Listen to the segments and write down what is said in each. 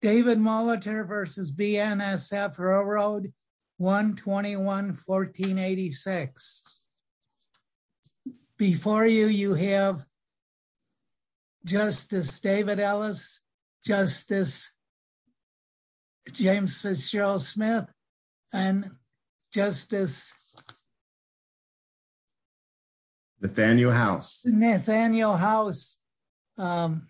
David Molitor v. BNSF Railroad 121-1486. Before you, you have Justice David Ellis, Justice James Fitzgerald Smith, and Justice Nathaniel House. Nathaniel House Our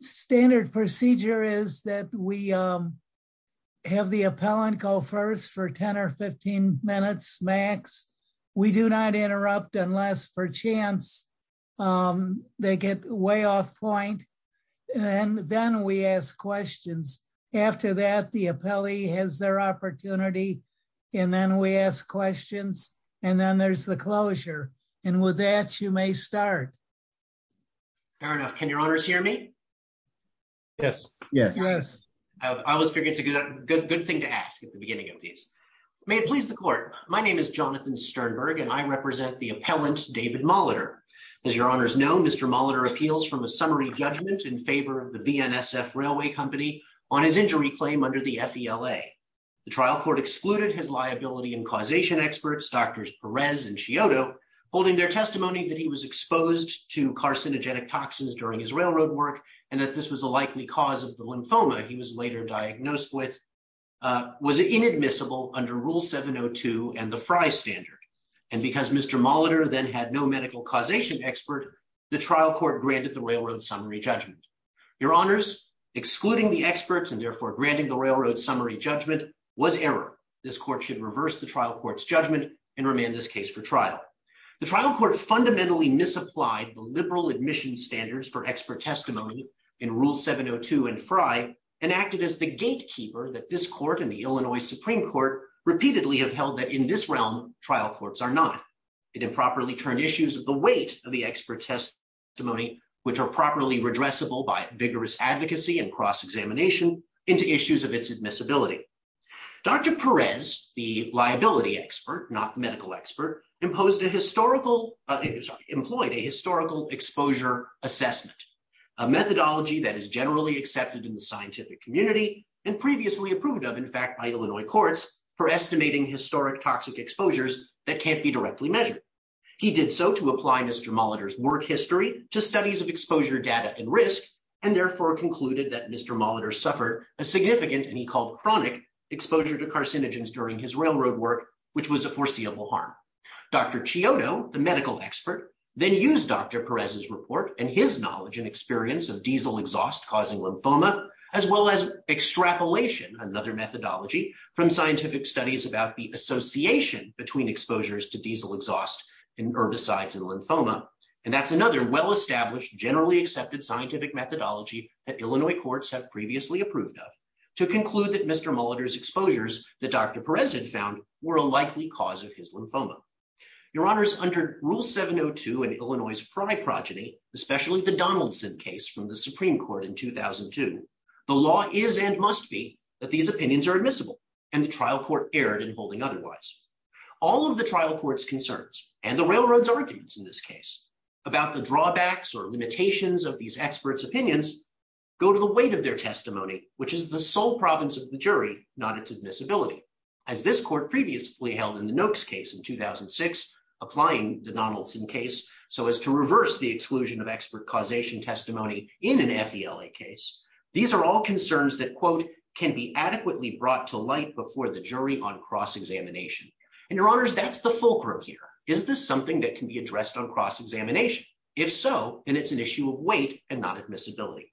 standard procedure is that we have the appellant go first for 10 or 15 minutes max. We do not interrupt unless, per chance, they get way off point and then we ask questions. After that, the appellee has their opportunity and then we ask questions and then there's the fair enough. Can your honors hear me? Yes. Yes. Yes. I always figured it's a good thing to ask at the beginning of these. May it please the court. My name is Jonathan Sternberg and I represent the appellant David Molitor. As your honors know, Mr. Molitor appeals from a summary judgment in favor of the BNSF Railway Company on his injury claim under the FELA. The trial court excluded his liability and causation experts, Drs. Perez and Scioto, holding their carcinogenic toxins during his railroad work and that this was a likely cause of the lymphoma he was later diagnosed with, was inadmissible under Rule 702 and the Frye Standard. And because Mr. Molitor then had no medical causation expert, the trial court granted the railroad summary judgment. Your honors, excluding the experts and therefore granting the railroad summary judgment was error. This court should reverse the trial court's judgment and remand this case for trial. The trial court fundamentally misapplied the liberal admission standards for expert testimony in Rule 702 and Frye and acted as the gatekeeper that this court and the Illinois Supreme Court repeatedly have held that in this realm, trial courts are not. It improperly turned issues of the weight of the expert testimony, which are properly redressable by vigorous advocacy and cross-examination into issues of its admissibility. Dr. Perez, the liability expert, not the medical expert, employed a historical exposure assessment, a methodology that is generally accepted in the scientific community and previously approved of, in fact, by Illinois courts for estimating historic toxic exposures that can't be directly measured. He did so to apply Mr. Molitor's work history to studies of exposure data and risk and therefore concluded that Mr. Molitor suffered a significant, and he called chronic, exposure to carcinogens during his railroad work, which was a foreseeable harm. Dr. Chiodo, the medical expert, then used Dr. Perez's report and his knowledge and experience of diesel exhaust causing lymphoma, as well as extrapolation, another methodology, from scientific studies about the association between exposures to diesel exhaust and herbicides and lymphoma, and that's another well-established, generally accepted scientific methodology that Illinois courts have previously approved of to conclude that Mr. Molitor's likely cause of his lymphoma. Your Honors, under Rule 702 in Illinois's Frey progeny, especially the Donaldson case from the Supreme Court in 2002, the law is and must be that these opinions are admissible and the trial court erred in holding otherwise. All of the trial court's concerns and the railroad's arguments in this case about the drawbacks or limitations of these experts' opinions go to the weight of their testimony, which is the sole province of the jury, not its admissibility. As this court previously held in the Noakes case in 2006, applying the Donaldson case so as to reverse the exclusion of expert causation testimony in an FELA case, these are all concerns that, quote, can be adequately brought to light before the jury on cross-examination. And Your Honors, that's the fulcrum here. Is this something that can be addressed on cross-examination? If so, then it's an issue of weight and not admissibility.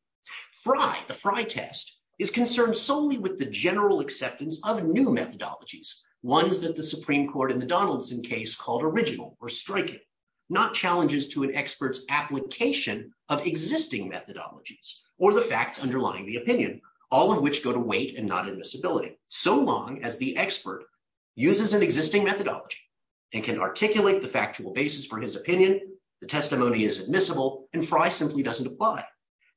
Frey, the Frey test, is concerned solely with the general acceptance of new methodologies, ones that the Supreme Court in the Donaldson case called original or striking, not challenges to an expert's application of existing methodologies or the facts underlying the opinion, all of which go to weight and not admissibility, so long as the expert uses an existing methodology and can articulate the factual basis for his opinion, the testimony is admissible, and Frey simply doesn't apply.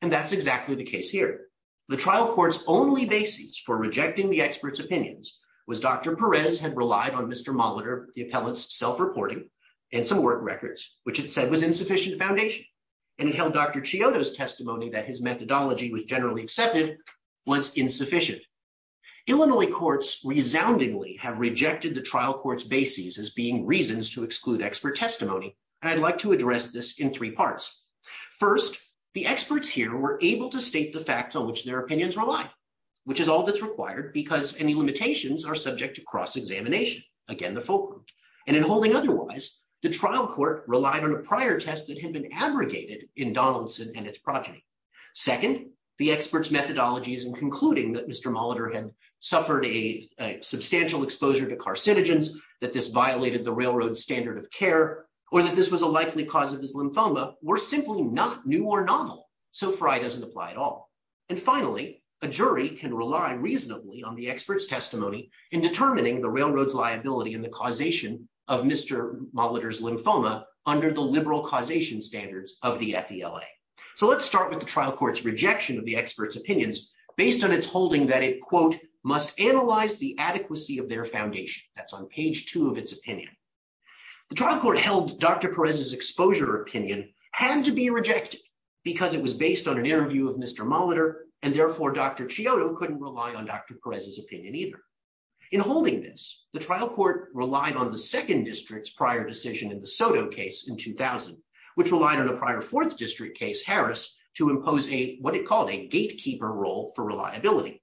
And that's exactly the case here. The trial court's only basis for rejecting the expert's opinions was Dr. Perez had relied on Mr. Molitor, the appellate's self-reporting and some work records, which it said was insufficient foundation. And it held Dr. Chiodo's testimony that his methodology was generally accepted was insufficient. Illinois courts resoundingly have rejected the trial court's basis as being reasons to exclude expert testimony, and I'd like to address this in three parts. First, the experts here were able to state the facts on which their opinions rely, which is all that's required because any limitations are subject to cross-examination, again the fulcrum. And in holding otherwise, the trial court relied on a prior test that had been abrogated in Donaldson and its progeny. Second, the expert's methodologies in concluding that Mr. Molitor had suffered a substantial exposure to carcinogens, that this violated the railroad standard of care, or that this was a likely cause of his lymphoma, were simply not new or novel. So FRI doesn't apply at all. And finally, a jury can rely reasonably on the expert's testimony in determining the railroad's liability in the causation of Mr. Molitor's lymphoma under the liberal causation standards of the FELA. So let's start with the trial court's rejection of the expert's opinions based on its holding that it, quote, must analyze the adequacy of their foundation. That's on page two of its opinion. The trial court held Dr. Perez's exposure opinion had to be rejected because it was based on an interview of Mr. Molitor, and therefore Dr. Chiodo couldn't rely on Dr. Perez's opinion either. In holding this, the trial court relied on the second district's prior decision in the Soto case in 2000, which relied on a prior fourth district case, Harris, to impose a, what it called a gatekeeper role for reliability.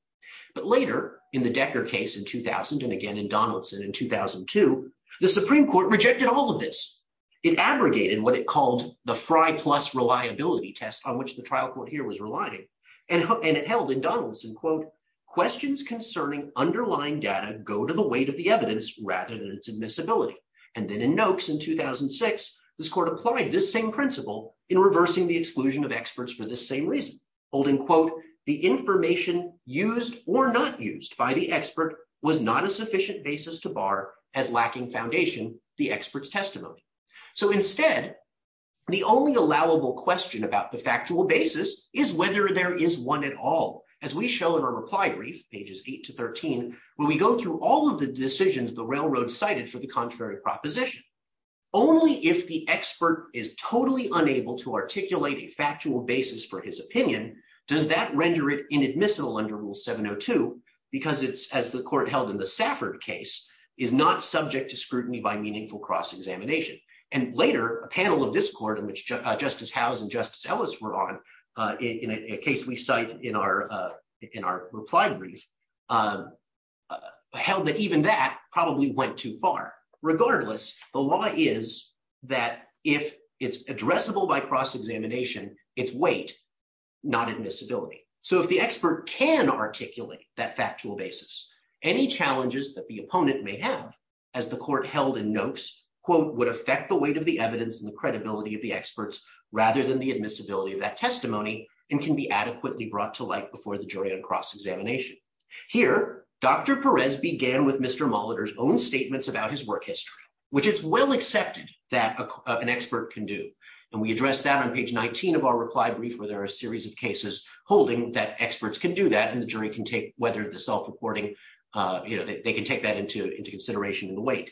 But later in the Decker case in 2000, and again in Donaldson in 2002, the Supreme Court rejected all of this. It abrogated what it called the FRI plus reliability test on which the trial court here was relying. And it held in Donaldson, quote, questions concerning underlying data go to the weight of the evidence rather than its admissibility. And then in Noakes in 2006, this court applied this same principle in reversing the exclusion of information used or not used by the expert was not a sufficient basis to bar as lacking foundation the expert's testimony. So instead, the only allowable question about the factual basis is whether there is one at all. As we show in our reply brief, pages eight to 13, where we go through all of the decisions the railroad cited for the contrary proposition. Only if the expert is totally unable to articulate a factual basis for his opinion, does that render it inadmissible under rule 702 because it's, as the court held in the Safford case, is not subject to scrutiny by meaningful cross-examination. And later, a panel of this court in which Justice Howes and Justice Ellis were on, in a case we cite in our reply brief, held that even that probably went too far. Regardless, the law is that if it's addressable by cross-examination, it's weight, not admissibility. So if the expert can articulate that factual basis, any challenges that the opponent may have, as the court held in Noakes, quote, would affect the weight of the evidence and the credibility of the experts rather than the admissibility of that testimony and can be adequately brought to light before the jury on cross-examination. Here, Dr. Perez began with Mr. Molitor's own statements about his work history, which it's well accepted that an expert can do. And we address that on page 19 of our reply brief, where there are a series of cases holding that experts can do that and the jury can take whether the self-reporting, you know, they can take that into consideration in the weight.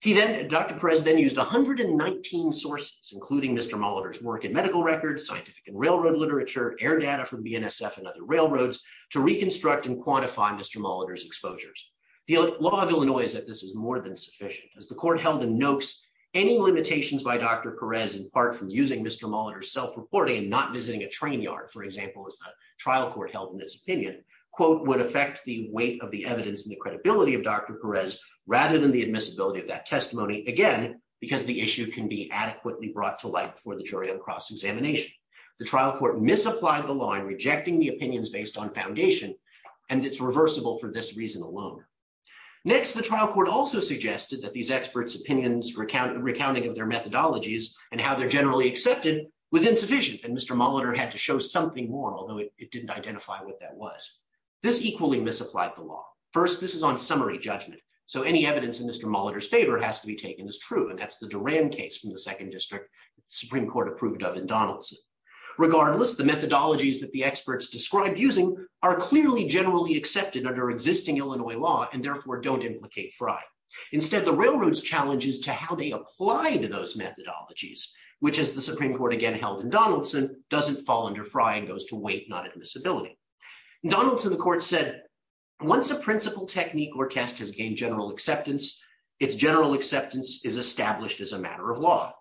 He then, Dr. Perez then used 119 sources, including Mr. Molitor's work in medical records, scientific and railroad literature, air data from BNSF and other railroads, to reconstruct and quantify Mr. Molitor's exposures. The law of Illinois is that this is more than sufficient. As the court held in Noakes, any limitations by Dr. Perez, in part from using Mr. Molitor's self-reporting and not visiting a train yard, for example, as the trial court held in its opinion, quote, would affect the weight of the evidence and the credibility of Dr. Perez rather than the admissibility of that testimony, again, because the issue can be adequately brought to light before the jury on cross-examination. The trial court misapplied the law in rejecting the opinions based on foundation, and it's reversible for this reason alone. Next, the trial court also suggested that these experts' opinions recounting of their methodologies and how they're generally accepted was insufficient, and Mr. Molitor had to show something more, although it didn't identify what that was. This equally misapplied the law. First, this is on summary judgment, so any evidence in Mr. Molitor's favor has to be taken as true, and that's the Duran case from the second district the Supreme Court approved of in Donaldson. Regardless, the methodologies that the experts described using are clearly generally accepted under existing Illinois law and therefore don't implicate Fry. Instead, the Railroad's challenge is to how they apply to those methodologies, which, as the Supreme Court again held in Donaldson, doesn't fall under Fry and goes to weight, not admissibility. In Donaldson, the court said, once a principal technique or test has gained general acceptance, its general acceptance is established as a matter of law,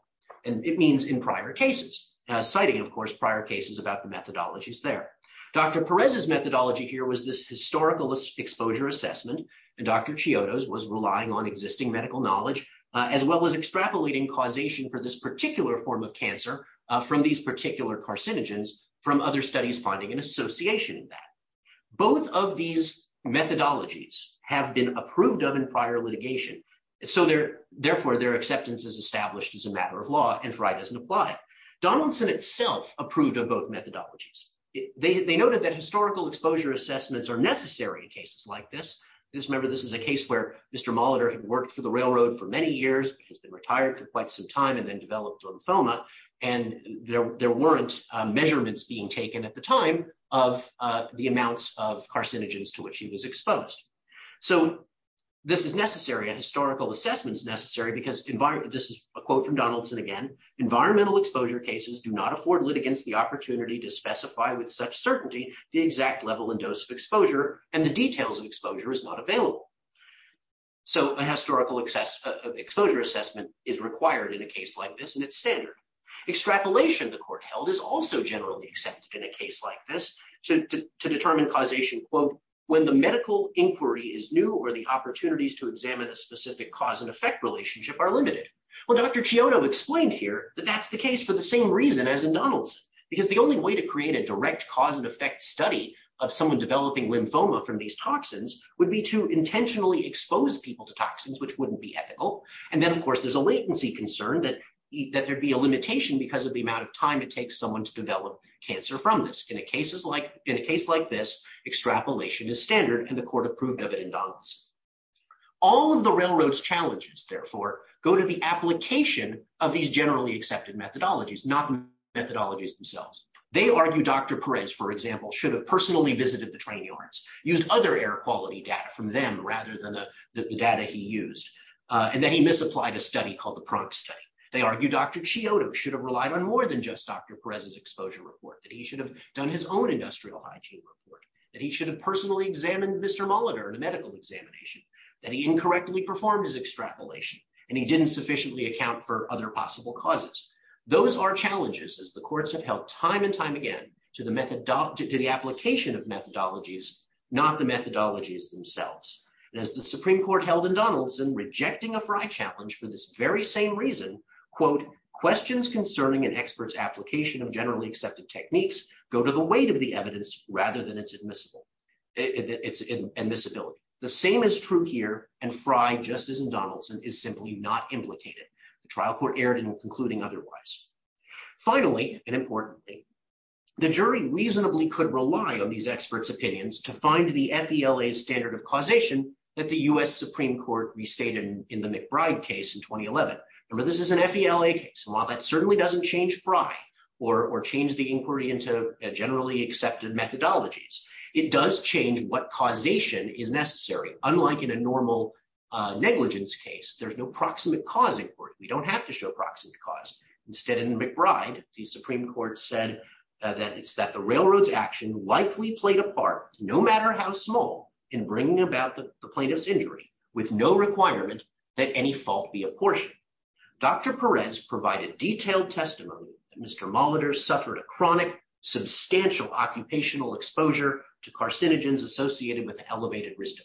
and it means in prior cases, citing, of course, prior cases about the methodologies there. Dr. Perez's methodology here was this historical exposure assessment, and Dr. Chiodos was relying on existing medical knowledge, as well as extrapolating causation for this particular form of cancer from these particular carcinogens from other studies finding an association in that. Both of these methodologies have been approved of in prior litigation, so therefore their acceptance is established as a approved of both methodologies. They noted that historical exposure assessments are necessary in cases like this. Just remember, this is a case where Mr. Molitor had worked for the Railroad for many years, has been retired for quite some time, and then developed lymphoma, and there weren't measurements being taken at the time of the amounts of carcinogens to which he was exposed. So this is necessary, a historical assessment is necessary, because this is a quote from Dr. Chiodo, and the details of exposure is not available. So a historical exposure assessment is required in a case like this, and it's standard. Extrapolation, the court held, is also generally accepted in a case like this to determine causation, quote, when the medical inquiry is new or the opportunities to examine a specific cause and effect relationship are limited. Well, Dr. Chiodo explained here that that's the case for the same reason as in Donaldson, because the only way to create a direct cause and effect study of someone developing lymphoma from these toxins would be to intentionally expose people to toxins, which wouldn't be ethical. And then, of course, there's a latency concern that there'd be a limitation because of the amount of time it takes someone to develop cancer from this. In a case like this, extrapolation is standard, and the court approved of it in Donaldson. All of the Railroad's challenges, therefore, go to the application of these generally accepted methodologies, not the methodologies themselves. They argue Dr. Perez, for example, should have personally visited the train yards, used other air quality data from them rather than the data he used, and then he misapplied a study called the Prunk Study. They argue Dr. Chiodo should have relied on more than just Dr. Perez's exposure report, that he should have done his own industrial hygiene report, that he should have personally examined Mr. Molitor in a medical examination, that he incorrectly performed his extrapolation, and he didn't sufficiently account for other possible causes. Those are challenges, as the courts have held time and time again to the application of methodologies, not the methodologies themselves. As the Supreme Court held in Donaldson, rejecting a Fry challenge for this very same reason, quote, questions concerning an expert's application of generally accepted techniques go to the weight of the evidence rather than its admissibility. The same is true here, and Fry, just as in Donaldson, is simply not implicated. The trial court erred in concluding otherwise. Finally, and importantly, the jury reasonably could rely on these experts' opinions to find the FELA standard of causation that the U.S. Supreme Court restated in the McBride case in 2011. Remember, this is an FELA case, and while that certainly doesn't change Fry or change the inquiry into generally accepted methodologies, it does change what causation is necessary. Unlike in a normal negligence case, there's no proximate cause inquiry. We don't have to show proximate cause. Instead, in McBride, the Supreme Court said that it's that the railroad's action likely played a part, no matter how small, in bringing about the plaintiff's injury, with no requirement that any fault be apportioned. Dr. Perez provided detailed testimony that Mr. Molitor suffered a chronic, substantial occupational exposure to carcinogens associated with the elevated risk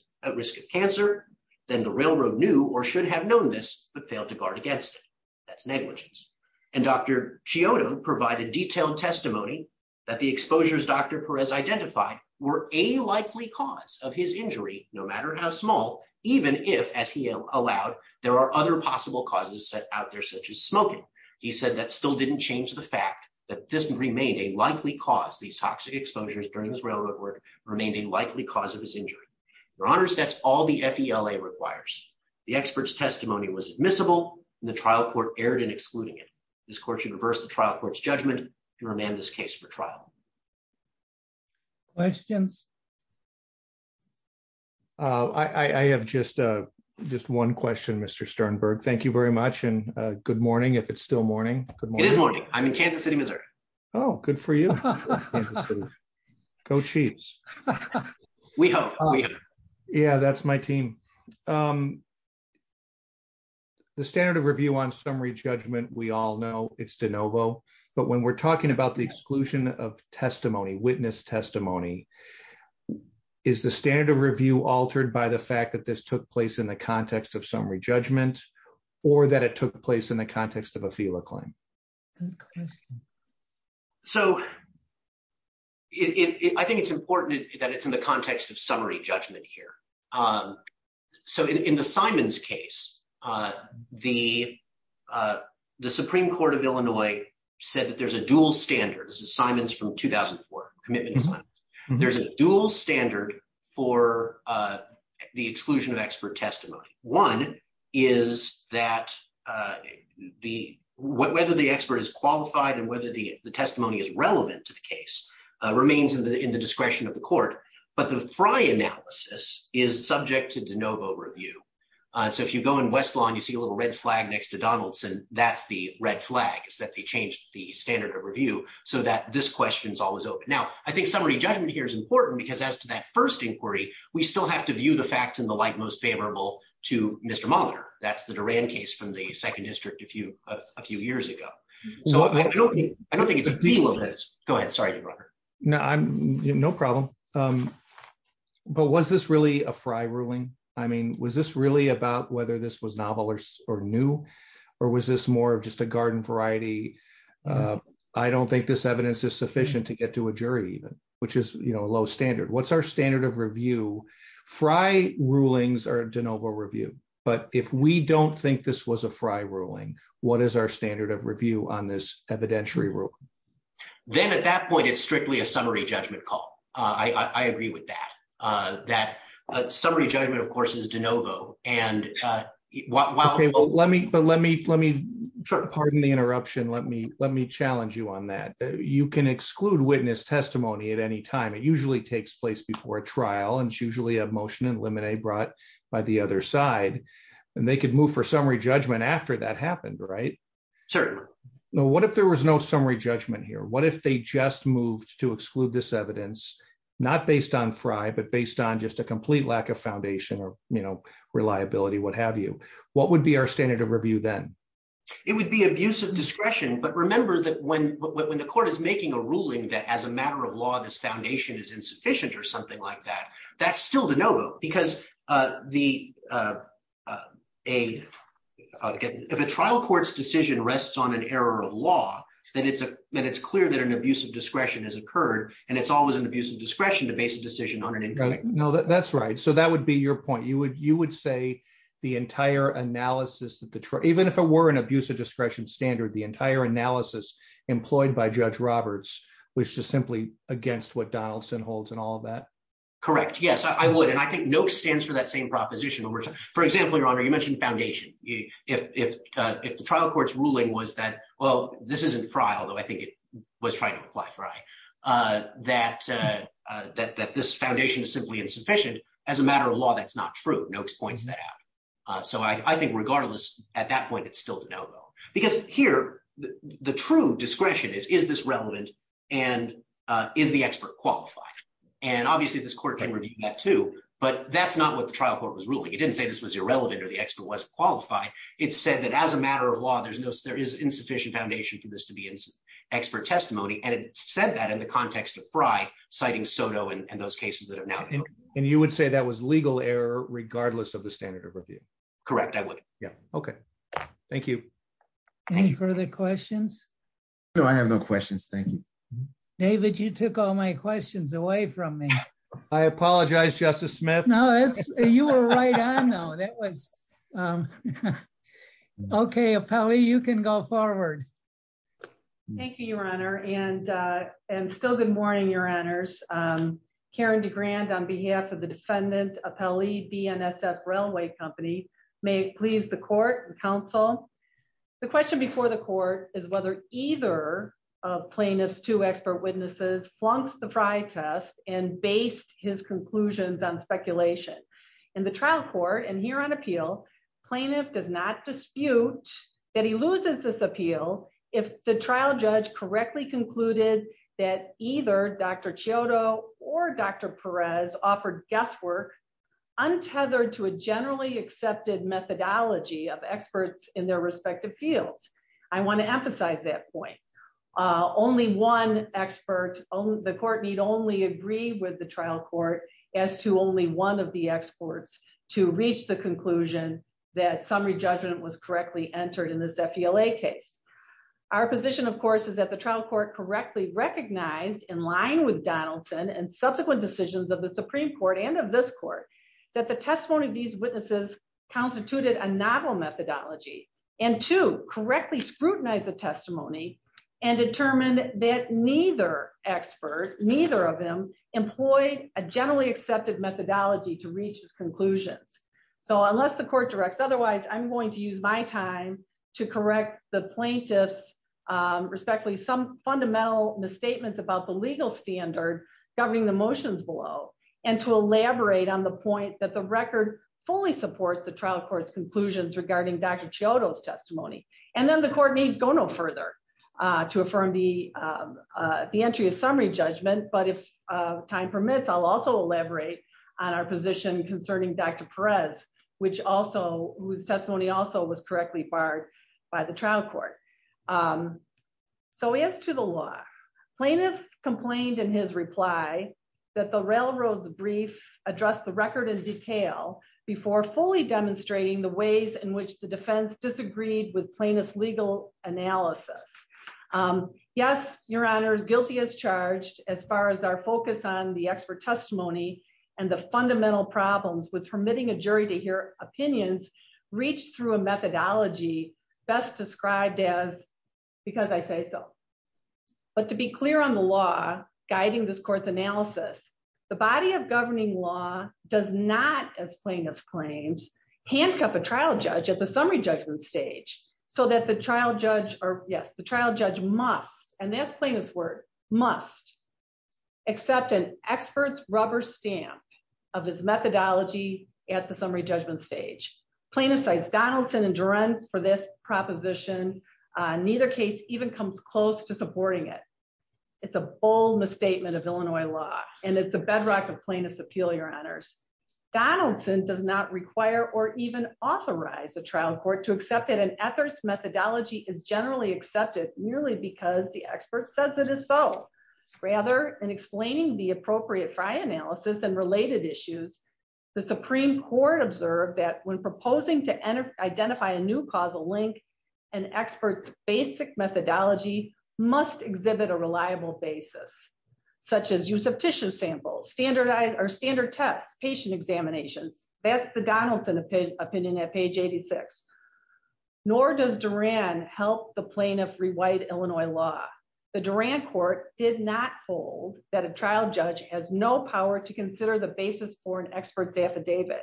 of cancer. Then the railroad knew or should have known this, but failed to guard against it. That's negligence. And Dr. Chiodo provided detailed testimony that the exposures Dr. Perez identified were a likely cause of his injury, no matter how small, even if, as he allowed, there are other possible causes set out there, such as smoking. He said that still didn't change the fact that this remained a likely cause. These toxic exposures during this railroad work remained a likely cause of his injury. Your Honors, that's all the FELA requires. The expert's testimony was admissible, and the trial court erred in excluding it. This court should reverse the trial court's judgment and remand this case for trial. Questions? I have just one question, Mr. Sternberg. Thank you very much, and good morning, if it's still morning. Good morning. I'm in Kansas City, Missouri. Oh, good for you. Go Chiefs. We hope. Yeah, that's my team. The standard of review on summary judgment, we all know it's de novo, but when we're talking about the exclusion of testimony, witness testimony, is the standard of review altered by the fact that this took place in the context of summary judgment or that it took place in the context of a FELA claim? Good question. So I think it's important that it's in the context of summary judgment here. So in the Simons case, the Supreme Court of Illinois said that there's a dual standard. This is Simons from 2004, commitment to Simons. There's a dual standard for the exclusion of expert testimony. One is that whether the expert is qualified and whether the testimony is relevant to the case remains in the discretion of the court, but the Fry analysis is subject to de novo review. So if you go in West Lawn, you see a little red flag next to Donaldson, that's the red flag. It's that they changed the standard of review so that this question's always open. Now, I think summary judgment here is important because as to that first inquiry, we still have to view the facts in the light most favorable to Mr. Molitor. That's the Duran case from the second district a few years ago. So I don't think it's de novo. Go ahead. Sorry to interrupt. No problem. But was this really a Fry ruling? I mean, was this really about whether this was novel or new or was this more of just a garden variety? I don't think this evidence is sufficient to get to a jury even, which is a low standard. What's our standard of review? Fry rulings are de novo review, but if we don't think this was a Fry ruling, what is our standard of review on this evidentiary rule? Then at that point, it's strictly a summary judgment call. I agree with that. That summary judgment of course is de novo. Pardon the interruption. Let me challenge you on that. You can exclude witness testimony at any time. It usually takes place before a trial and it's usually a motion in limine brought by the other side and they could move for summary judgment after that happened, right? Certainly. What if there was no summary judgment here? What if they just moved to exclude this evidence, not based on Fry, but based on just a complete lack of foundation or reliability, what have you? What would be our standard of review then? It would be abusive discretion. But remember that when the court is making a ruling that as a matter of law, this foundation is insufficient or something like that, that's still de novo because if a trial court's decision rests on an error of law, then it's clear that an abusive discretion has occurred and it's always an abusive discretion to base a decision on an incorrect one. No, that's right. That would be your point. You would say the entire analysis, even if it were an abusive discretion standard, the entire analysis employed by Judge Roberts was just simply against what Donaldson holds and all of that? Correct. Yes, I would. I think NOC stands for that same proposition. For example, you mentioned foundation. If the trial court's ruling was that, well, this isn't Fry, although I think it was trying to imply Fry, that this foundation is simply insufficient, as a matter of law, that's not true. NOC points that out. I think regardless, at that point, it's still de novo because here, the true discretion is, is this relevant and is the expert qualified? Obviously, this court can review that too, but that's not what the trial court was ruling. It didn't say this was irrelevant or the expert wasn't qualified. It said that as a matter of law, there's no, there is insufficient foundation for this to be expert testimony. And it said that in the context of Fry citing Soto and those cases that are now. And you would say that was legal error regardless of the standard of review? Correct. I would. Yeah. Okay. Thank you. Any further questions? No, I have no questions. Thank you. David, you took all my questions away from me. I apologize, Justice Smith. No, you were right on though. That was okay. Appellee, you can go forward. Thank you, Your Honor. And still good morning, Your Honors. Karen DeGrand on behalf of the defendant, Appellee, BNSF Railway Company, may it please the court and counsel. The question before the court is whether either of plaintiff's two expert witnesses flunked the Fry test and based his conclusions on speculation. In the trial court and here on appeal, plaintiff does not dispute that he loses this appeal. If the trial judge correctly concluded that either Dr. Chiodo or Dr. Perez offered guesswork untethered to a generally accepted methodology of experts in their respective fields. I want to emphasize that point. Only one expert, the court need only agree with the trial court as to only one of the experts to reach the conclusion that summary judgment was correctly entered in this FLA case. Our position, of course, is that the trial court correctly recognized in line with Donaldson and subsequent decisions of the Supreme Court and of this court, that the testimony of these witnesses constituted a novel methodology and to correctly scrutinize the testimony and determine that neither expert, neither of them, employed a generally accepted methodology to reach his conclusions. So unless the court directs otherwise, I'm going to use my time to correct the plaintiff's respectfully some fundamental misstatements about the legal standard governing the motions below and to elaborate on the point that the record fully supports the trial court's conclusions regarding Dr. Chiodo's testimony. And then the court may go no further to affirm the entry of summary judgment. But if time permits, I'll also elaborate on our position concerning Dr. Perez, whose testimony also was correctly barred by the trial court. So as to the law, plaintiffs complained in his reply that the railroad's brief addressed the record in detail before fully demonstrating the ways in which the defense disagreed with plaintiff's legal analysis. Yes, your honors, guilty as charged, as far as our focus on the expert testimony and the fundamental problems with permitting a jury to hear opinions reached through a methodology best described as, because I say so. But to be clear on the law guiding this court's analysis, the body of governing law does not, as plaintiff claims, handcuff a trial judge at the summary judgment stage so that the trial judge, or yes, the trial judge must, and that's plaintiff's word, must accept an expert's rubber stamp of his methodology at the summary judgment stage. Plaintiffs cite Donaldson and Duren for this proposition. Neither case even comes close to supporting it. It's a bold misstatement of Illinois law, and it's the bedrock of plaintiff's appeal, your honors. Donaldson does not require or even authorize a trial court to accept that an ethics methodology is generally accepted merely because the expert says it is so. Rather, in explaining the appropriate Fry analysis and related issues, the Supreme Court observed that when proposing to identify a new causal link, an expert's basic methodology must exhibit a reliable basis, such as use of tissue samples, standardized or standard tests, patient examinations. That's the Donaldson opinion at page 86. Nor does Duren help the plaintiff rewrite Illinois law. The Duren court did not hold that a trial judge has no power to consider the basis for an expert's affidavit,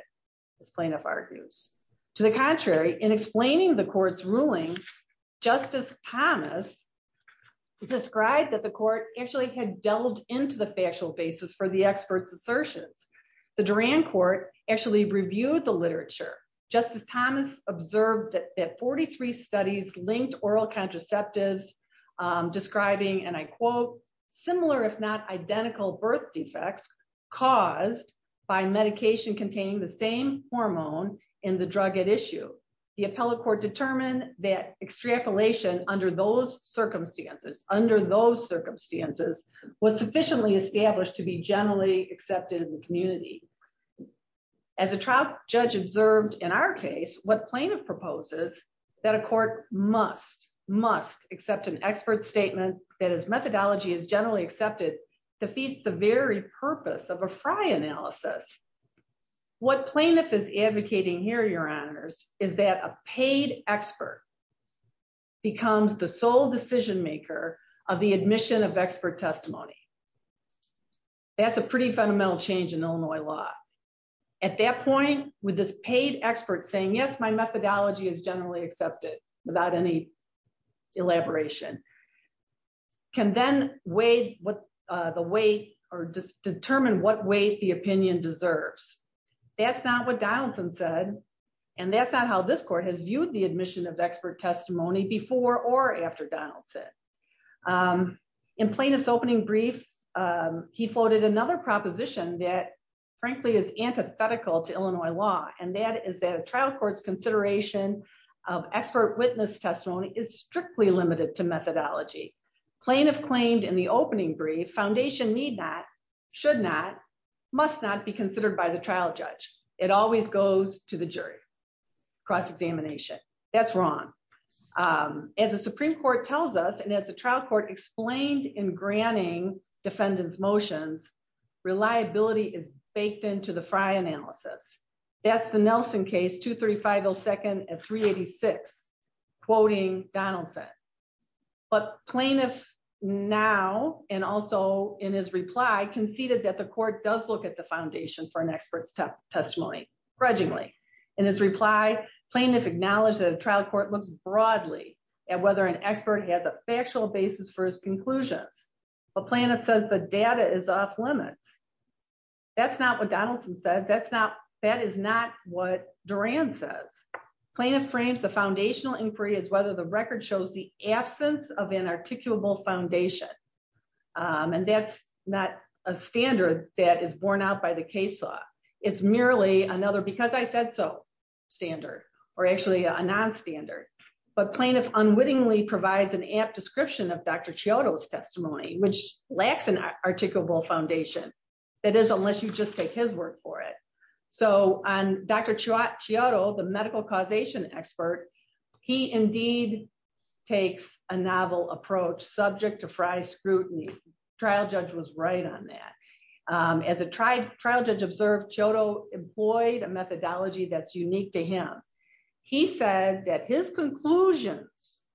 as plaintiff argues. To the contrary, in explaining the court's ruling, Justice Thomas described that the court actually had delved into the factual basis for the expert's assertions. The Duren court actually reviewed the literature. Justice Thomas observed that 43 studies linked oral contraceptives, describing, and I quote, similar if not identical birth defects caused by medication containing the same hormone in the drug at issue. The appellate court determined that extrapolation under those circumstances, under those circumstances, was sufficiently established to be generally accepted in the community. As a trial judge observed in our case, what plaintiff proposes that a court must, must accept an expert's statement that his methodology is generally accepted defeats the very purpose of a Frye analysis. What plaintiff is advocating here, your honors, is that a paid expert becomes the sole decision maker of the admission of expert testimony. That's a pretty fundamental change in Illinois law. At that point, with this paid expert saying, yes, my methodology is generally accepted, without any elaboration, can then weigh the weight or determine what weight the opinion deserves. That's not what Donaldson said. And that's not how this court has viewed the admission of expert testimony before or after Donaldson. In plaintiff's opening brief, he floated another proposition that, frankly, is antithetical to consideration of expert witness testimony is strictly limited to methodology. Plaintiff claimed in the opening brief, foundation need not, should not, must not be considered by the trial judge. It always goes to the jury, cross-examination. That's wrong. As the Supreme Court tells us, and as the trial court explained in granting defendants motions, reliability is baked into the Frye analysis. That's the Nelson case, 235-02-386, quoting Donaldson. But plaintiff now, and also in his reply, conceded that the court does look at the foundation for an expert's testimony, grudgingly. In his reply, plaintiff acknowledged that a trial court looks broadly at whether an expert has a factual basis for his conclusions. But plaintiff says the data is off limits. That's not what Donaldson said. That's not, that is not what Duran says. Plaintiff frames the foundational inquiry as whether the record shows the absence of an articulable foundation. And that's not a standard that is borne out by the case law. It's merely another, because I said so, standard, or actually a non-standard. But plaintiff unwittingly provides an apt description of Dr. Chiodo's testimony, which lacks an articulable foundation. It is unless you just take his word for it. So on Dr. Chiodo, the medical causation expert, he indeed takes a novel approach subject to Frye scrutiny. Trial judge was right on that. As a trial judge observed, Chiodo employed a methodology that's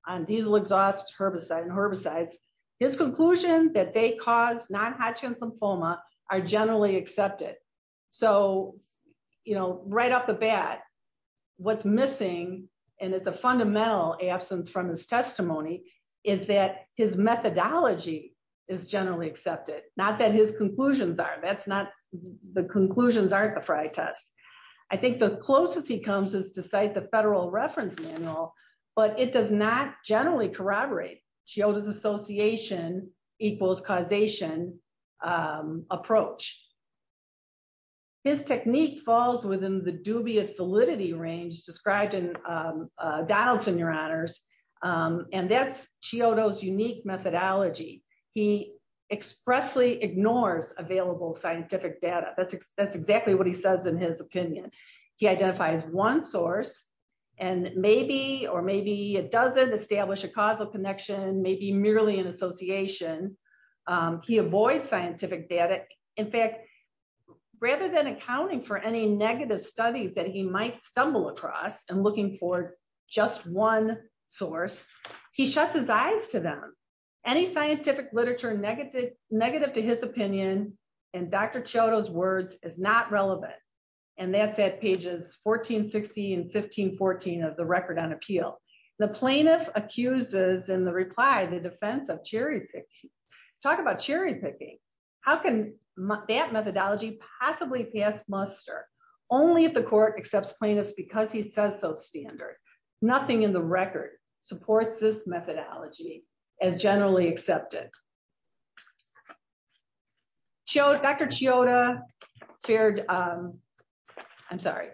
on diesel exhaust, herbicide, and herbicides. His conclusion that they cause non-Hodgkin's lymphoma are generally accepted. So right off the bat, what's missing, and it's a fundamental absence from his testimony, is that his methodology is generally accepted. Not that his conclusions are. That's not, the conclusions aren't the Frye test. I think the closest he comes is to cite federal reference manual, but it does not generally corroborate Chiodo's association equals causation approach. His technique falls within the dubious validity range described in Donaldson, your honors, and that's Chiodo's unique methodology. He expressly ignores available scientific data. That's exactly what he says in his opinion. He identifies one source and maybe, or maybe a dozen, establish a causal connection, maybe merely an association. He avoids scientific data. In fact, rather than accounting for any negative studies that he might stumble across and looking for just one source, he shuts his eyes to them. Any scientific literature negative to his opinion and Dr. Chiodo's words is not relevant. And that's at pages 1460 and 1514 of the record on appeal. The plaintiff accuses in the reply, the defense of cherry picking. Talk about cherry picking. How can that methodology possibly pass muster? Only if the court accepts plaintiffs because he says so standard. Nothing in the record supports this methodology. Dr. Chiodo feared, I'm sorry.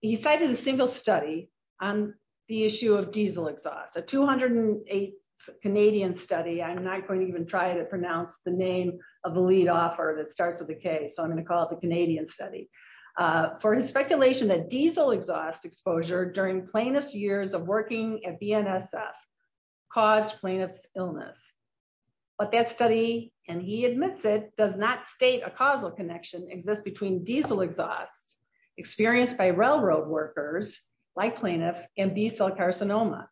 He cited a single study on the issue of diesel exhaust, a 208 Canadian study. I'm not going to even try to pronounce the name of the lead offer that starts with a K. So I'm going to call it the Canadian study. For his speculation that diesel exhaust exposure during plaintiff's years of working at BNSF caused plaintiff's illness. But that study, and he admits it does not state a causal connection exists between diesel exhaust experienced by railroad workers like plaintiff and B cell carcinoma.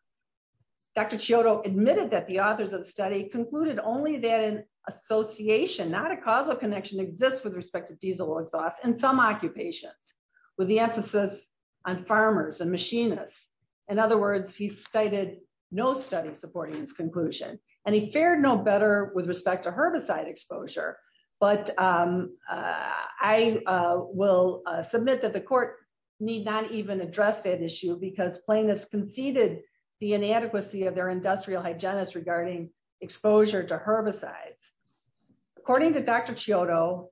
Dr. Chiodo admitted that the authors of the study concluded only then association, not a causal connection exists with respect to diesel exhaust and some occupations with the emphasis on farmers and machinists. In other words, he cited no study supporting his conclusion and he fared no better with respect to herbicide exposure. But I will submit that the court need not even address that issue because plaintiffs conceded the inadequacy of their industrial hygienist regarding exposure to herbicides. According to Dr. Chiodo,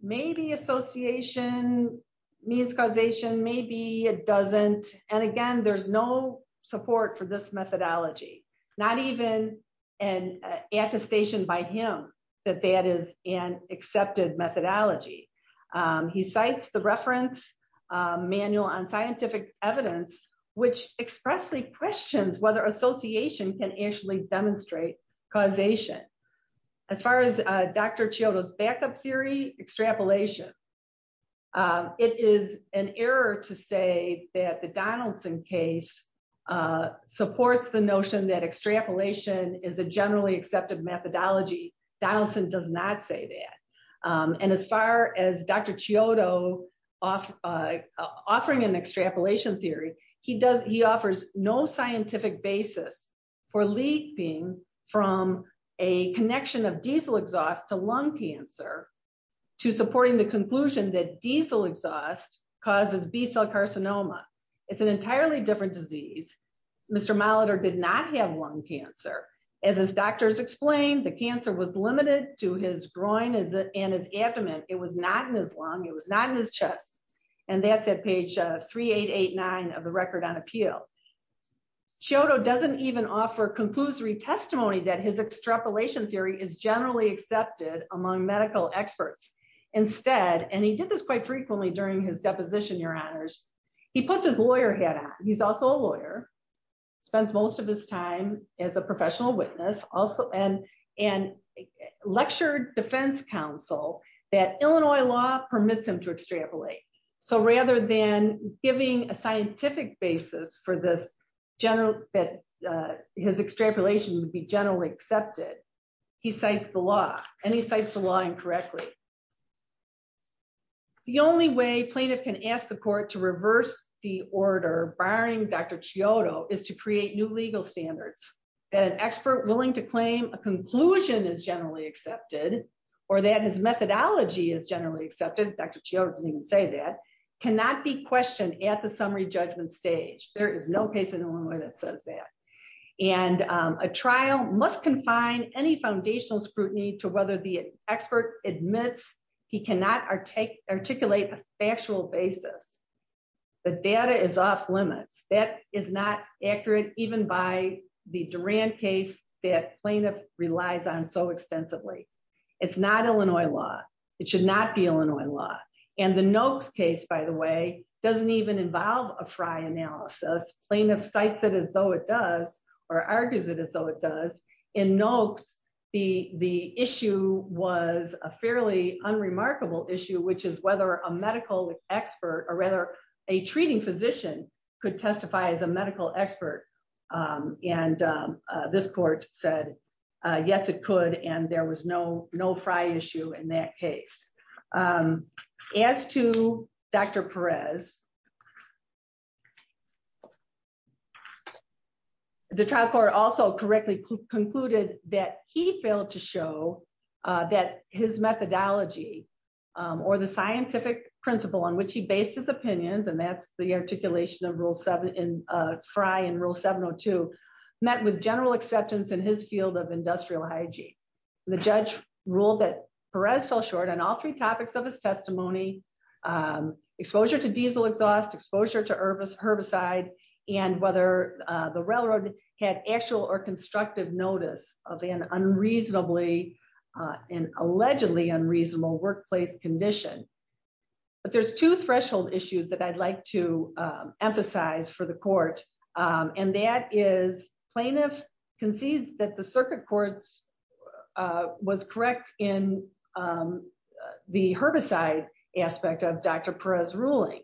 maybe association means causation, maybe it doesn't. And again, there's no support for this methodology, not even an attestation by him that that is an accepted methodology. He cites the reference manual on scientific evidence, which expressly questions whether association can actually demonstrate causation. As far as Dr. Chiodo, extrapolation. It is an error to say that the Donaldson case supports the notion that extrapolation is a generally accepted methodology. Donaldson does not say that. And as far as Dr. Chiodo offering an extrapolation theory, he offers no scientific basis for leaping from a connection of diesel exhaust to lung cancer to supporting the conclusion that diesel exhaust causes B-cell carcinoma. It's an entirely different disease. Mr. Molitor did not have lung cancer. As his doctors explained, the cancer was limited to his groin and his abdomen. It was not in his lung. It was not in his chest. And that's at page 3889 of the record on appeal. Chiodo doesn't even offer conclusory testimony that his extrapolation theory is generally accepted among medical experts. Instead, and he did this quite frequently during his deposition, your honors, he puts his lawyer hat on. He's also a lawyer, spends most of his time as a professional witness also and lectured defense counsel that Illinois law permits him to extrapolate. So rather than giving a scientific basis for this general that his extrapolation would be generally accepted, he cites the law and he cites the law incorrectly. The only way plaintiff can ask the court to reverse the order barring Dr. Chiodo is to create new legal standards that an expert willing to claim a conclusion is generally accepted or that his methodology is generally accepted, Dr. Chiodo didn't even say that, cannot be questioned at the summary judgment stage. There is no case in Illinois that says that. And a trial must confine any foundational scrutiny to whether the expert admits he cannot articulate a factual basis. The data is off limits. That is not accurate even by the Duran case that plaintiff relies on so extensively. It's not Illinois law. It should not be Illinois law. And the Noakes case, by the way, doesn't even involve a Frye analysis. Plaintiff cites it as though it does or argues it as though it does. In Noakes, the issue was a fairly unremarkable issue, which is whether a medical expert or rather a treating physician could testify as a medical expert. And this court said, yes, it could. And there was no Frye issue in that case. As to Dr. Perez, the trial court also correctly concluded that he failed to show that his methodology or the scientific principle on which he based his opinions, and that's the articulation of Frye in Rule 702, met with general acceptance in his field of industrial hygiene. The judge ruled that Perez fell short on all three topics of his testimony, exposure to diesel exhaust, exposure to herbicide, and whether the railroad had actual or constructive notice of an allegedly unreasonable workplace condition. But there's two threshold issues that I'd like to and that is plaintiff concedes that the circuit court was correct in the herbicide aspect of Dr. Perez ruling.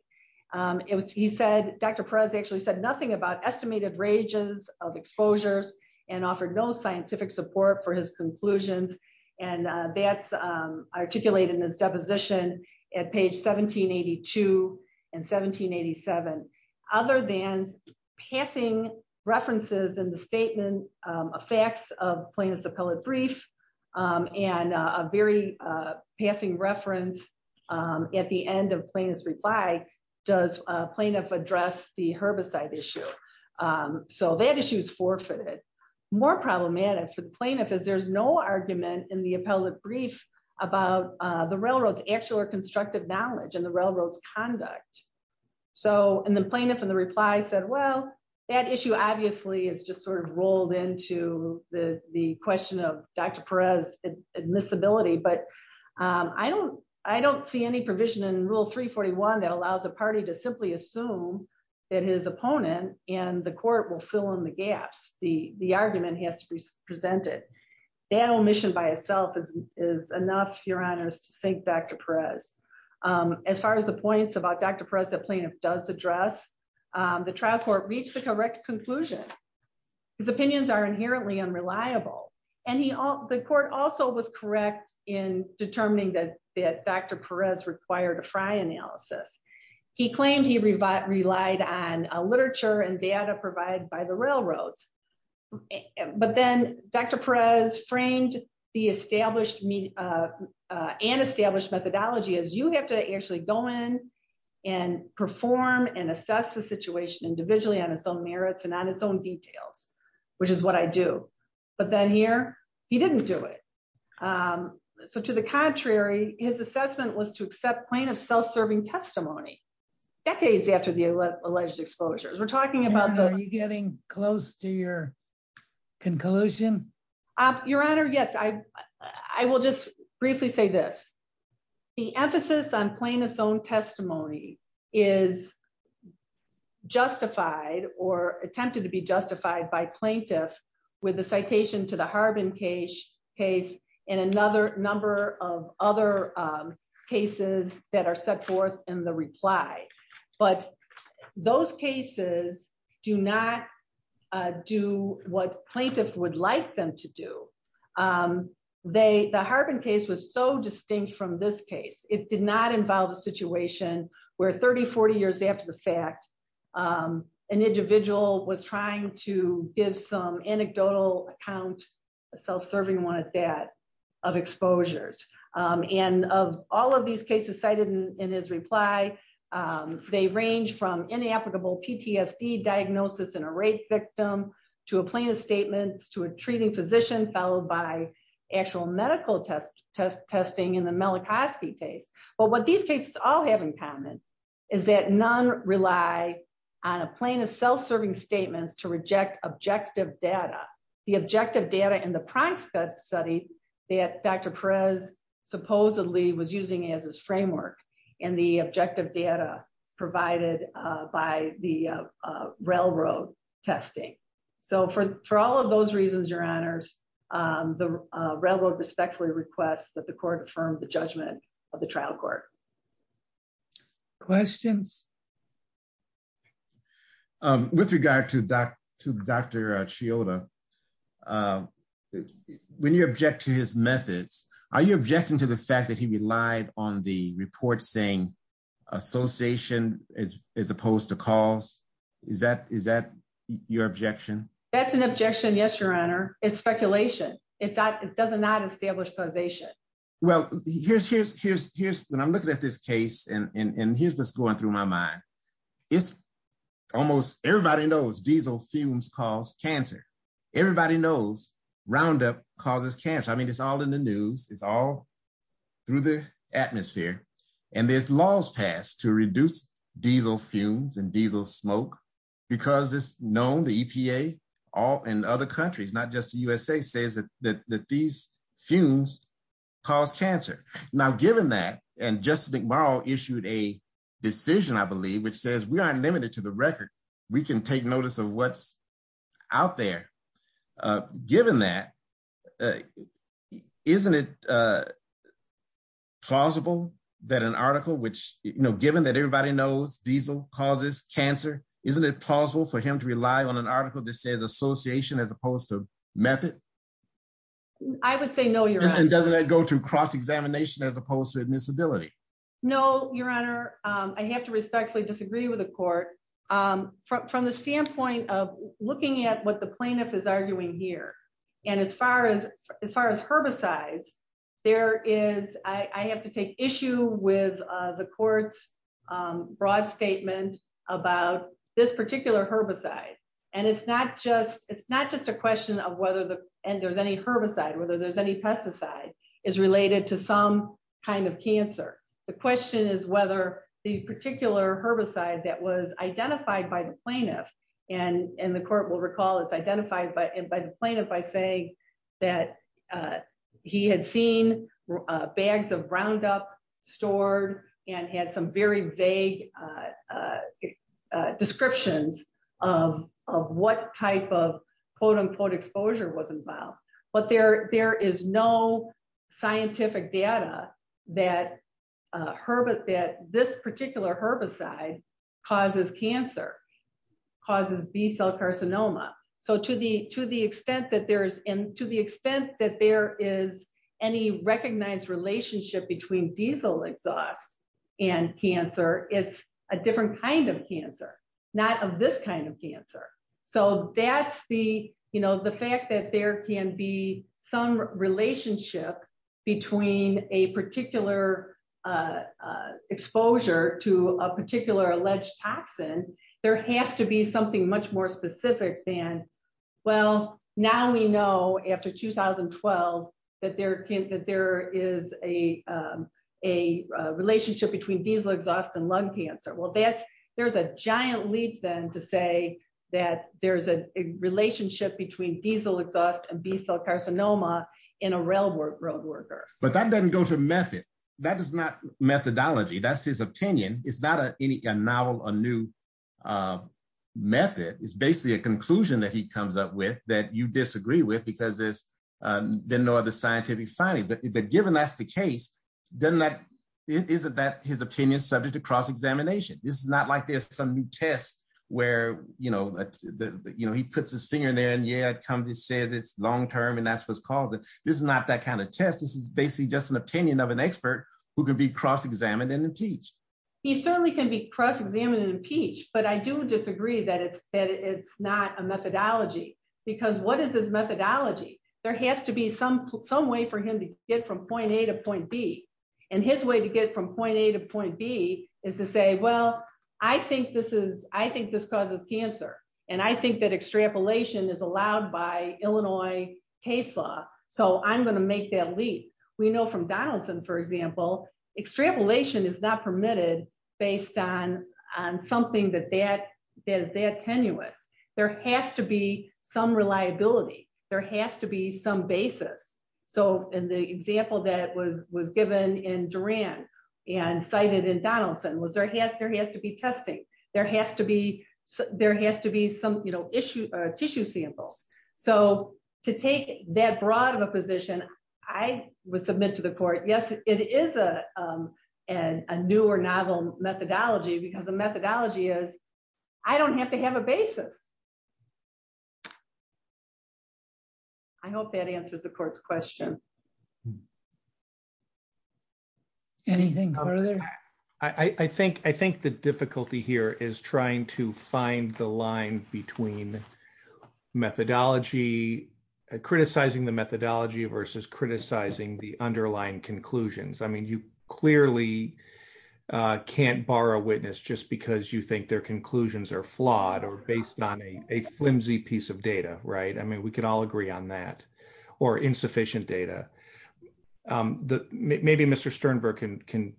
He said Dr. Perez actually said nothing about estimated ranges of exposures and offered no scientific support for his conclusions. And that's articulated in his passing references in the statement, a fax of plaintiff's appellate brief, and a very passing reference at the end of plaintiff's reply, does plaintiff address the herbicide issue? So that issue is forfeited. More problematic for the plaintiff is there's no argument in the appellate brief about the railroad's actual or constructive knowledge and the railroad's conduct. So in the plaintiff in the reply said, well, that issue obviously is just sort of rolled into the question of Dr. Perez admissibility. But I don't see any provision in Rule 341 that allows a party to simply assume that his opponent and the court will fill in the gaps. The argument has to be presented. That omission by itself is enough, Your Honors, to sink Dr. Perez. As far as the points about Dr. Perez that plaintiff does address, the trial court reached the correct conclusion. His opinions are inherently unreliable, and the court also was correct in determining that Dr. Perez required a Frye analysis. He claimed he relied on literature and data provided by the railroads. But then Dr. Perez framed the established and established methodology as you have to actually go in and perform and assess the situation individually on its own merits and on its own details, which is what I do. But then here, he didn't do it. So to the contrary, his assessment was to accept plaintiff's self-serving testimony decades after the alleged exposure. We're talking Are you getting close to your conclusion? Your Honor, yes. I will just briefly say this. The emphasis on plaintiff's own testimony is justified or attempted to be justified by plaintiff with the citation to the Harbin case and another number of other cases that are set in the reply. But those cases do not do what plaintiff would like them to do. The Harbin case was so distinct from this case. It did not involve a situation where 30, 40 years after the fact, an individual was trying to give some anecdotal account, self-serving one at that, of exposures. And of all of these cases cited in his reply, they range from inapplicable PTSD diagnosis in a rape victim, to a plaintiff's statement, to a treating physician, followed by actual medical testing in the Malachowski case. But what these cases all have in common is that none rely on a plaintiff's self-serving statements to reject objective data. The objective data in the Prankstad study that Dr. Perez supposedly was using as his framework and the objective data provided by the railroad testing. So for all of those reasons, Your Honors, the railroad respectfully requests that the court affirmed the judgment of the trial court. Questions? With regard to Dr. Chioda, when you object to his methods, are you objecting to the fact that he relied on the report saying association as opposed to cause? Is that your objection? That's an objection, yes, Your Honor. It's speculation. It does not establish possession. Well, when I'm looking at this case, and here's what's going through my mind, it's almost everybody knows diesel fumes cause cancer. Everybody knows Roundup causes cancer. I mean, it's all in the news. It's all through the atmosphere. And there's laws passed to reduce diesel fumes and diesel smoke, because it's known the EPA and other countries, not just the USA, says that these fumes cause cancer. Now, given that, and Justice McMurrow issued a decision, I believe, which says we aren't limited to the record. We can take notice of what's out there. Given that, isn't it plausible that an article which, you know, given that everybody knows diesel causes cancer, isn't it plausible for him to rely on an article that says association as opposed to cause? I would say no, Your Honor. And doesn't that go to cross-examination as opposed to admissibility? No, Your Honor. I have to respectfully disagree with the court. From the standpoint of looking at what the plaintiff is arguing here, and as far as herbicides, there is, I have to take issue with the court's broad statement about this particular herbicide. And it's not just, it's not just a question of whether the, and there's any herbicide, whether there's any pesticide, is related to some kind of cancer. The question is whether the particular herbicide that was identified by the plaintiff, and the court will recall it's identified by the plaintiff by saying that he had seen bags of Roundup stored and had some very vague descriptions of what type of quote-unquote exposure was involved. But there is no scientific data that this particular herbicide causes cancer, causes B-cell carcinoma. So to the extent that there's, and to the extent that there is any recognized relationship between diesel exhaust and cancer, it's a different kind of cancer, not of this kind of cancer. So that's the, you know, the fact that there can be some relationship between a particular exposure to a particular alleged toxin, there has to be something much more specific than, well, now we know after 2012 that there is a relationship between diesel exhaust and lung cancer. Well, there's a giant leap then to say that there's a relationship between diesel exhaust and B-cell carcinoma in a railroad worker. But that doesn't go to method. That is not methodology. That's his opinion. It's not a novel, a new method. It's basically a conclusion that he comes up with that you disagree with because there's been no other scientific findings. But given that's the case, doesn't that, isn't that his opinion subject to cross-examination? This is not like there's some new test where, you know, he puts his finger in there and yeah, it comes and says it's long-term and that's what's caused it. This is not that kind of test. This is basically just an opinion of an expert who can be cross-examined and impeached. He certainly can be cross-examined and impeached, but I do disagree that it's not a methodology because what is his methodology? There has to be some way for him to get from point A to point B. And his way to get from point A to point B is to say, well, I think this causes cancer. And I think that extrapolation is allowed by Illinois case law. So I'm going to make that example. Extrapolation is not permitted based on something that is that tenuous. There has to be some reliability. There has to be some basis. So in the example that was given in Duran and cited in Donaldson was there has to be testing. There has to be some tissue samples. So to take that broad of a position, I would submit to the court, yes, it is a newer novel methodology because the methodology is I don't have to have a basis. I hope that answers the court's question. Anything further? I think the difficulty here is trying to find the line between methodology, criticizing the methodology versus criticizing the underlying conclusions. I mean, you clearly can't borrow witness just because you think their conclusions are flawed or based on a flimsy piece of data. Right. I mean, we could all agree on that or insufficient data. Maybe Mr. Sternberg can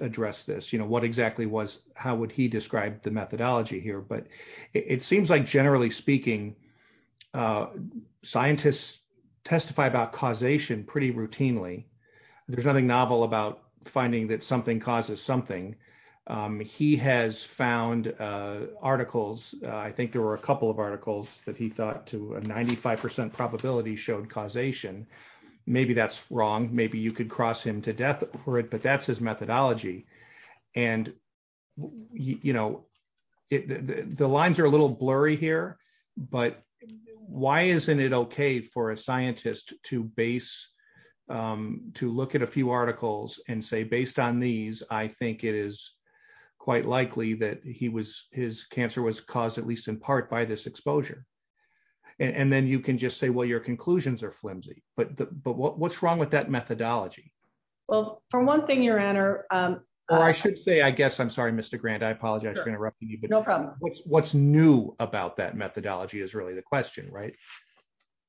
address this. What exactly was how would he describe the methodology here? But it seems like generally speaking, scientists testify about causation pretty routinely. There's nothing novel about finding that something causes something. He has found articles. I think there were a couple of articles that he thought to a 95 percent probability showed causation. Maybe that's wrong. Maybe you could cross him to death for it. But that's his methodology. And, you know, the lines are a little blurry here. But why isn't it OK for a scientist to base to look at a few articles and say, based on these, I think it is quite likely that he was his cancer was caused at least in part by this exposure. And then you can just say, well, your conclusions are Well, for one thing, your honor, I should say, I guess I'm sorry, Mr. Grant, I apologize for interrupting you. But no problem. What's new about that methodology is really the question. Right.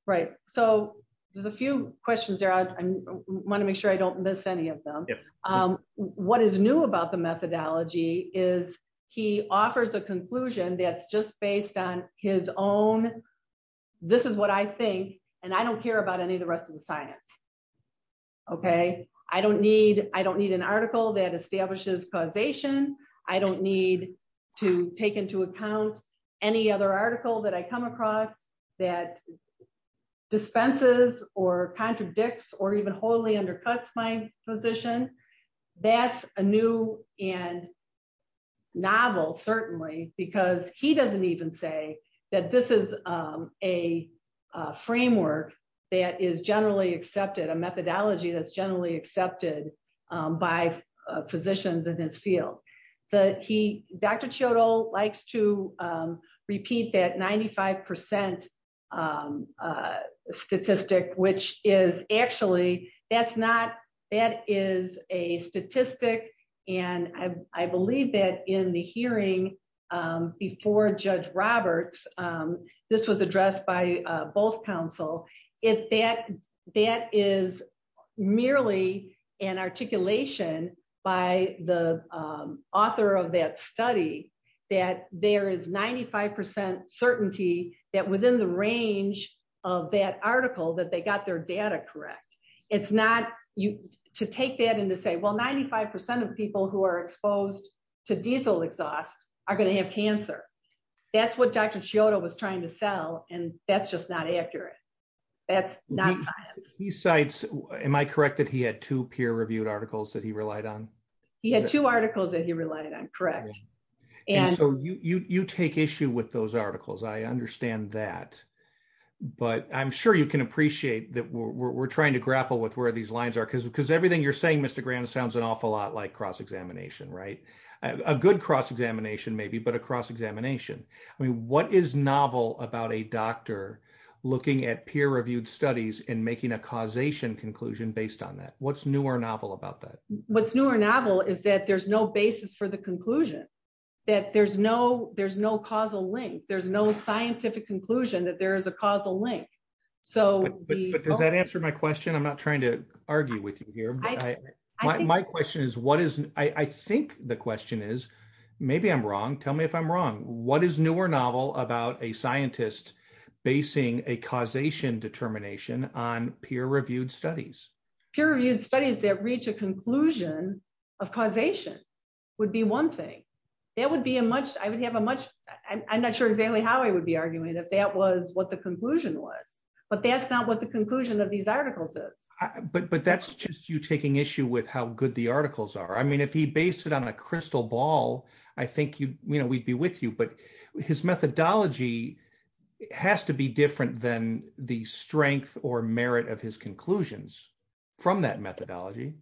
Right. So there's a few questions there. I want to make sure I don't miss any of them. What is new about the methodology is he offers a conclusion that's just based on his own. This is what I think. And I don't care about any of the rest of the science. OK, I don't need I don't need an article that establishes causation. I don't need to take into account any other article that I come across that dispenses or contradicts or even wholly undercuts my position. That's a new and novel, certainly, because he doesn't even say that this is a framework that is generally accepted, a methodology that's generally accepted by physicians in this field that he, Dr. Chodol, likes to repeat that ninety five percent statistic, which is actually that's not that is a statistic. And I believe that in the hearing before Judge Roberts, this was addressed by both counsel. If that that is merely an articulation by the author of that study, that there is ninety five percent certainty that within the range of that article that they got their data correct. It's not you to take that and to say, well, ninety five percent of people who are exposed to diesel exhaust are going to have cancer. That's what Dr. Chodol was trying to sell. And that's just not accurate. That's not he cites. Am I correct that he had two peer reviewed articles that he relied on? He had two articles that he relied on. Correct. And so you take issue with those articles. I understand that. But I'm sure you can appreciate that we're trying to grapple with where these lines are, because because everything you're saying, Mr. Graham, sounds an awful lot like cross examination, right? A good cross examination, maybe, but a cross examination. I mean, what is novel about a doctor looking at peer reviewed studies and making a causation conclusion based on that? What's newer novel about that? What's newer novel is that there's no basis for the conclusion that there's no there's no causal link. There's no scientific conclusion that there is a with you here. My question is, what is I think the question is, maybe I'm wrong. Tell me if I'm wrong. What is newer novel about a scientist basing a causation determination on peer reviewed studies? Peer reviewed studies that reach a conclusion of causation would be one thing that would be a much I would have a much I'm not sure exactly how I would be arguing if that was what the you taking issue with how good the articles are. I mean, if he based it on a crystal ball, I think you know, we'd be with you. But his methodology has to be different than the strength or merit of his conclusions from that methodology.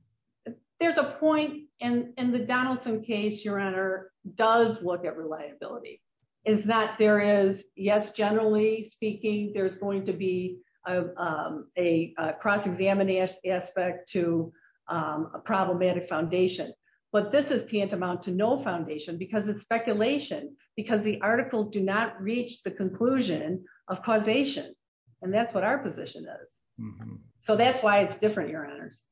There's a point in the Donaldson case, your honor, does look at reliability, is that there is, yes, generally speaking, there's going to be a cross examining aspect to a problematic foundation. But this is tantamount to no foundation because it's speculation, because the articles do not reach the conclusion of causation. And that's what our position is. So that's why it's different, your honors.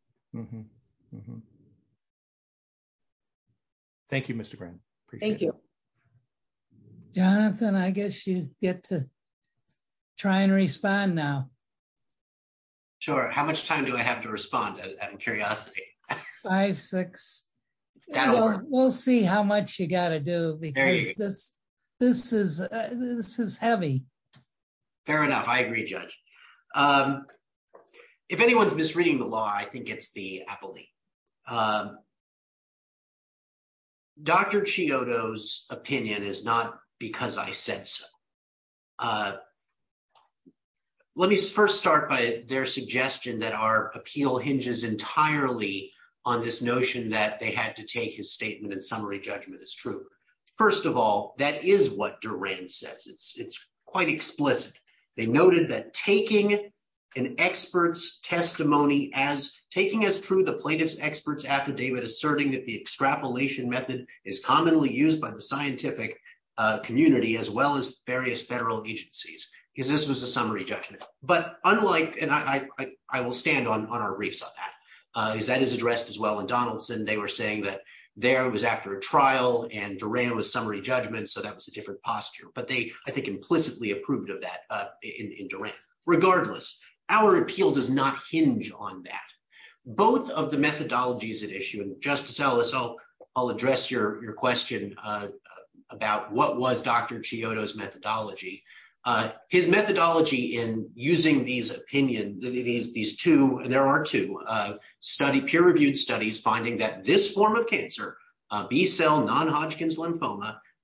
Thank you, Mr. Grant. Thank you. Jonathan, I guess you get to try and respond now. Sure. How much time do I have to respond? Curiosity? Five, six. We'll see how much you got to do this. This is this is heavy. Fair enough. I agree, Judge. If anyone's misreading the law, I think it's the appellee. Dr. Chiodo's opinion is not because I said so. Let me first start by their suggestion that our appeal hinges entirely on this notion that they had to take his statement and summary judgment as true. First of all, that is what Durand says. It's quite explicit. They noted that taking an expert's testimony as taking as true the affidavit, asserting that the extrapolation method is commonly used by the scientific community as well as various federal agencies, because this was a summary judgment. But unlike and I will stand on our reefs on that, because that is addressed as well in Donaldson. They were saying that there was after a trial and Durand was summary judgment. So that was a different posture. But they, I think, implicitly approved of that in Durand. Regardless, our appeal does not hinge on that. Both of the methodologies at issue, and Justice Ellis, I'll address your question about what was Dr. Chiodo's methodology. His methodology in using these opinion, these two, and there are two, peer-reviewed studies finding that this form of cancer, B-cell non-Hodgkin's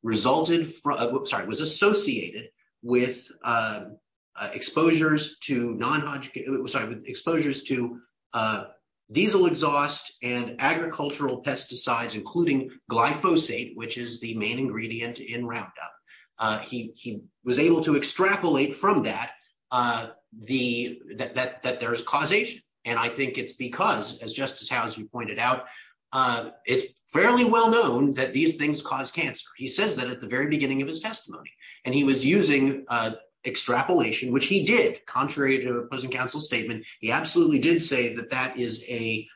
resulted from, sorry, was associated with exposures to non-Hodgkin, sorry, exposures to diesel exhaust and agricultural pesticides, including glyphosate, which is the main ingredient in Roundup. He was able to extrapolate from that that there's causation. And I think it's just as how, as you pointed out, it's fairly well-known that these things cause cancer. He says that at the very beginning of his testimony. And he was using extrapolation, which he did, contrary to opposing counsel's statement. He absolutely did say that that is a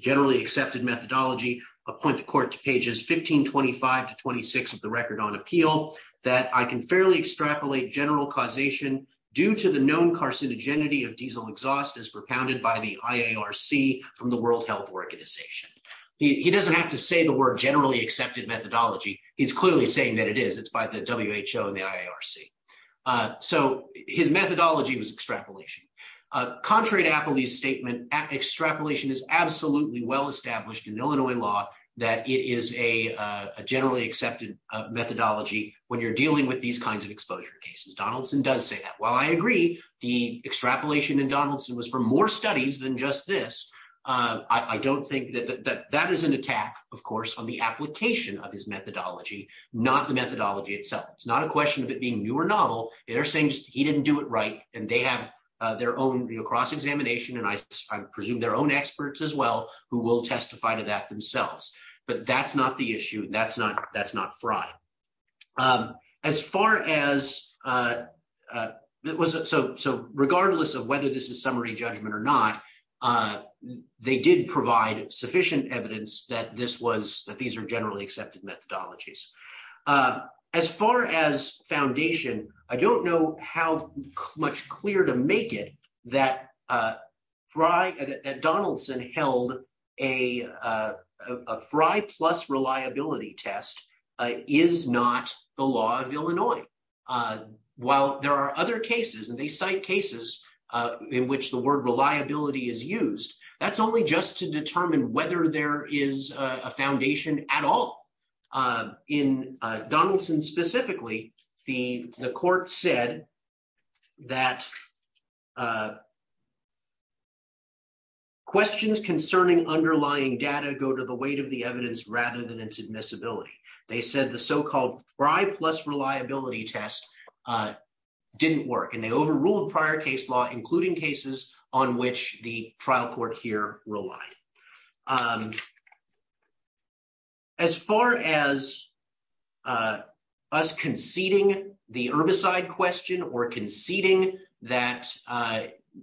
generally accepted methodology. I'll point the court to pages 1525 to 26 of the record on appeal that I can fairly extrapolate general causation due to the known carcinogenity of diesel exhaust as propounded by the IARC from the World Health Organization. He doesn't have to say the word generally accepted methodology. He's clearly saying that it is, it's by the WHO and the IARC. So his methodology was extrapolation. Contrary to Appley's statement, extrapolation is absolutely well-established in Illinois law that it is a generally accepted methodology when you're dealing with these kinds of exposure cases. Donaldson does say that. While I agree, the extrapolation in Donaldson was for more studies than just this. I don't think that that is an attack, of course, on the application of his methodology, not the methodology itself. It's not a question of it being new or novel. They're saying he didn't do it right. And they have their own cross-examination, and I presume their own experts as well, who will testify to that so regardless of whether this is summary judgment or not, they did provide sufficient evidence that this was, that these are generally accepted methodologies. As far as foundation, I don't know how much clearer to make it that Fry, that Donaldson held a Fry plus reliability test is not the law of Illinois. While there are other cases, and they cite cases in which the word reliability is used, that's only just to determine whether there is a foundation at all. In Donaldson specifically, the court said that questions concerning underlying data go to the weight of the evidence rather than its admissibility. They said the so-called Fry plus reliability test didn't work, and they overruled prior case law, including cases on which the trial court here relied. As far as us conceding the herbicide question or conceding that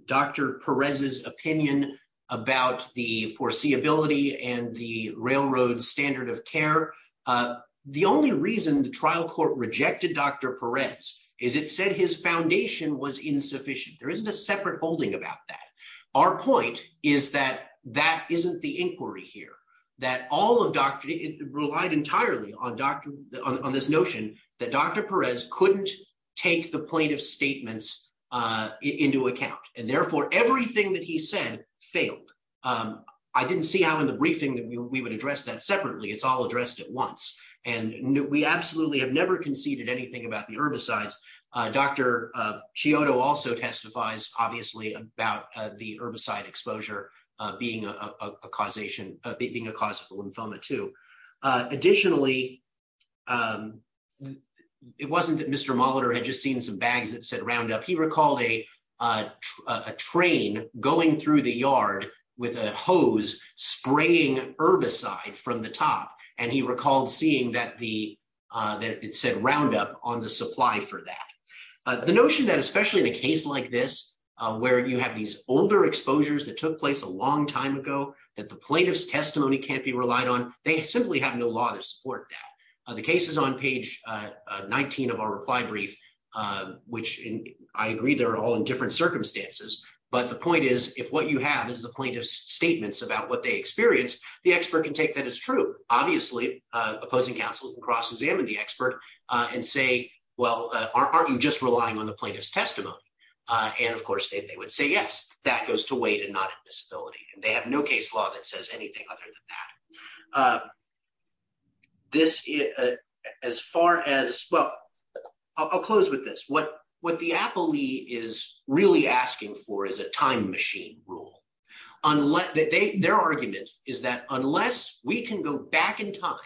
Dr. Perez's opinion about the foreseeability and the railroad standard of care, the only reason the trial court rejected Dr. Perez is it said his foundation was insufficient. There isn't a separate holding about that. Our point is that that isn't the inquiry here, that all of Dr., it relied entirely on Dr., on this notion that Dr. Perez couldn't take the plaintiff's statements into account, and we would address that separately. It's all addressed at once. We absolutely have never conceded anything about the herbicides. Dr. Chiodo also testifies, obviously, about the herbicide exposure being a cause for lymphoma too. Additionally, it wasn't that Mr. Molitor had just seen some bags that said Roundup. He recalled a train going through the yard with a hose spraying herbicide from the top, and he recalled seeing that it said Roundup on the supply for that. The notion that especially in a case like this where you have these older exposures that took place a long time ago that the plaintiff's testimony can't be relied on, they simply have no law to support that. The case is on page 19 of our reply brief, which I agree they're all in different circumstances, but the point is if what you have is the plaintiff's statements about what they experienced, the expert can take that as true. Obviously, opposing counsel can cross-examine the expert and say, well, aren't you just relying on the plaintiff's testimony? Of course, they would say yes. That goes to weight and not admissibility. They have no case law that says anything other than that. I'll close with this. What the appellee is really asking for is a time machine rule. Their argument is that unless we can go back in time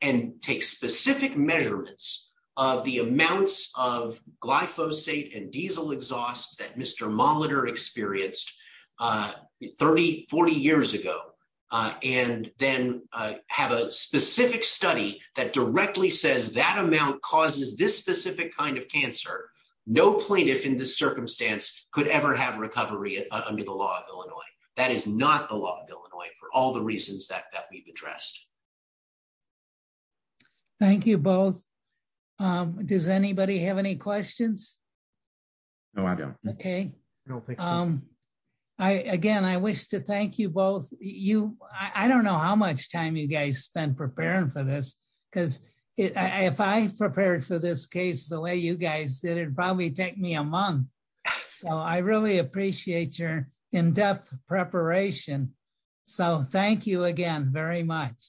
and take specific measurements of the amounts of glyphosate and diesel exhaust that Mr. Molitor experienced 40 years ago and then have a specific study that directly says that amount causes this specific kind of cancer, no plaintiff in this circumstance could ever have recovery under the law of Illinois. That is not the law of Illinois for all the reasons that we've addressed. Thank you both. Does anybody have any questions? No, I don't. Okay. Again, I wish to thank you both. I don't know how much time you guys spent preparing for this. If I prepared for this case the way you guys did, it would probably take me a month. I really appreciate your in-depth preparation. Thank you again very much.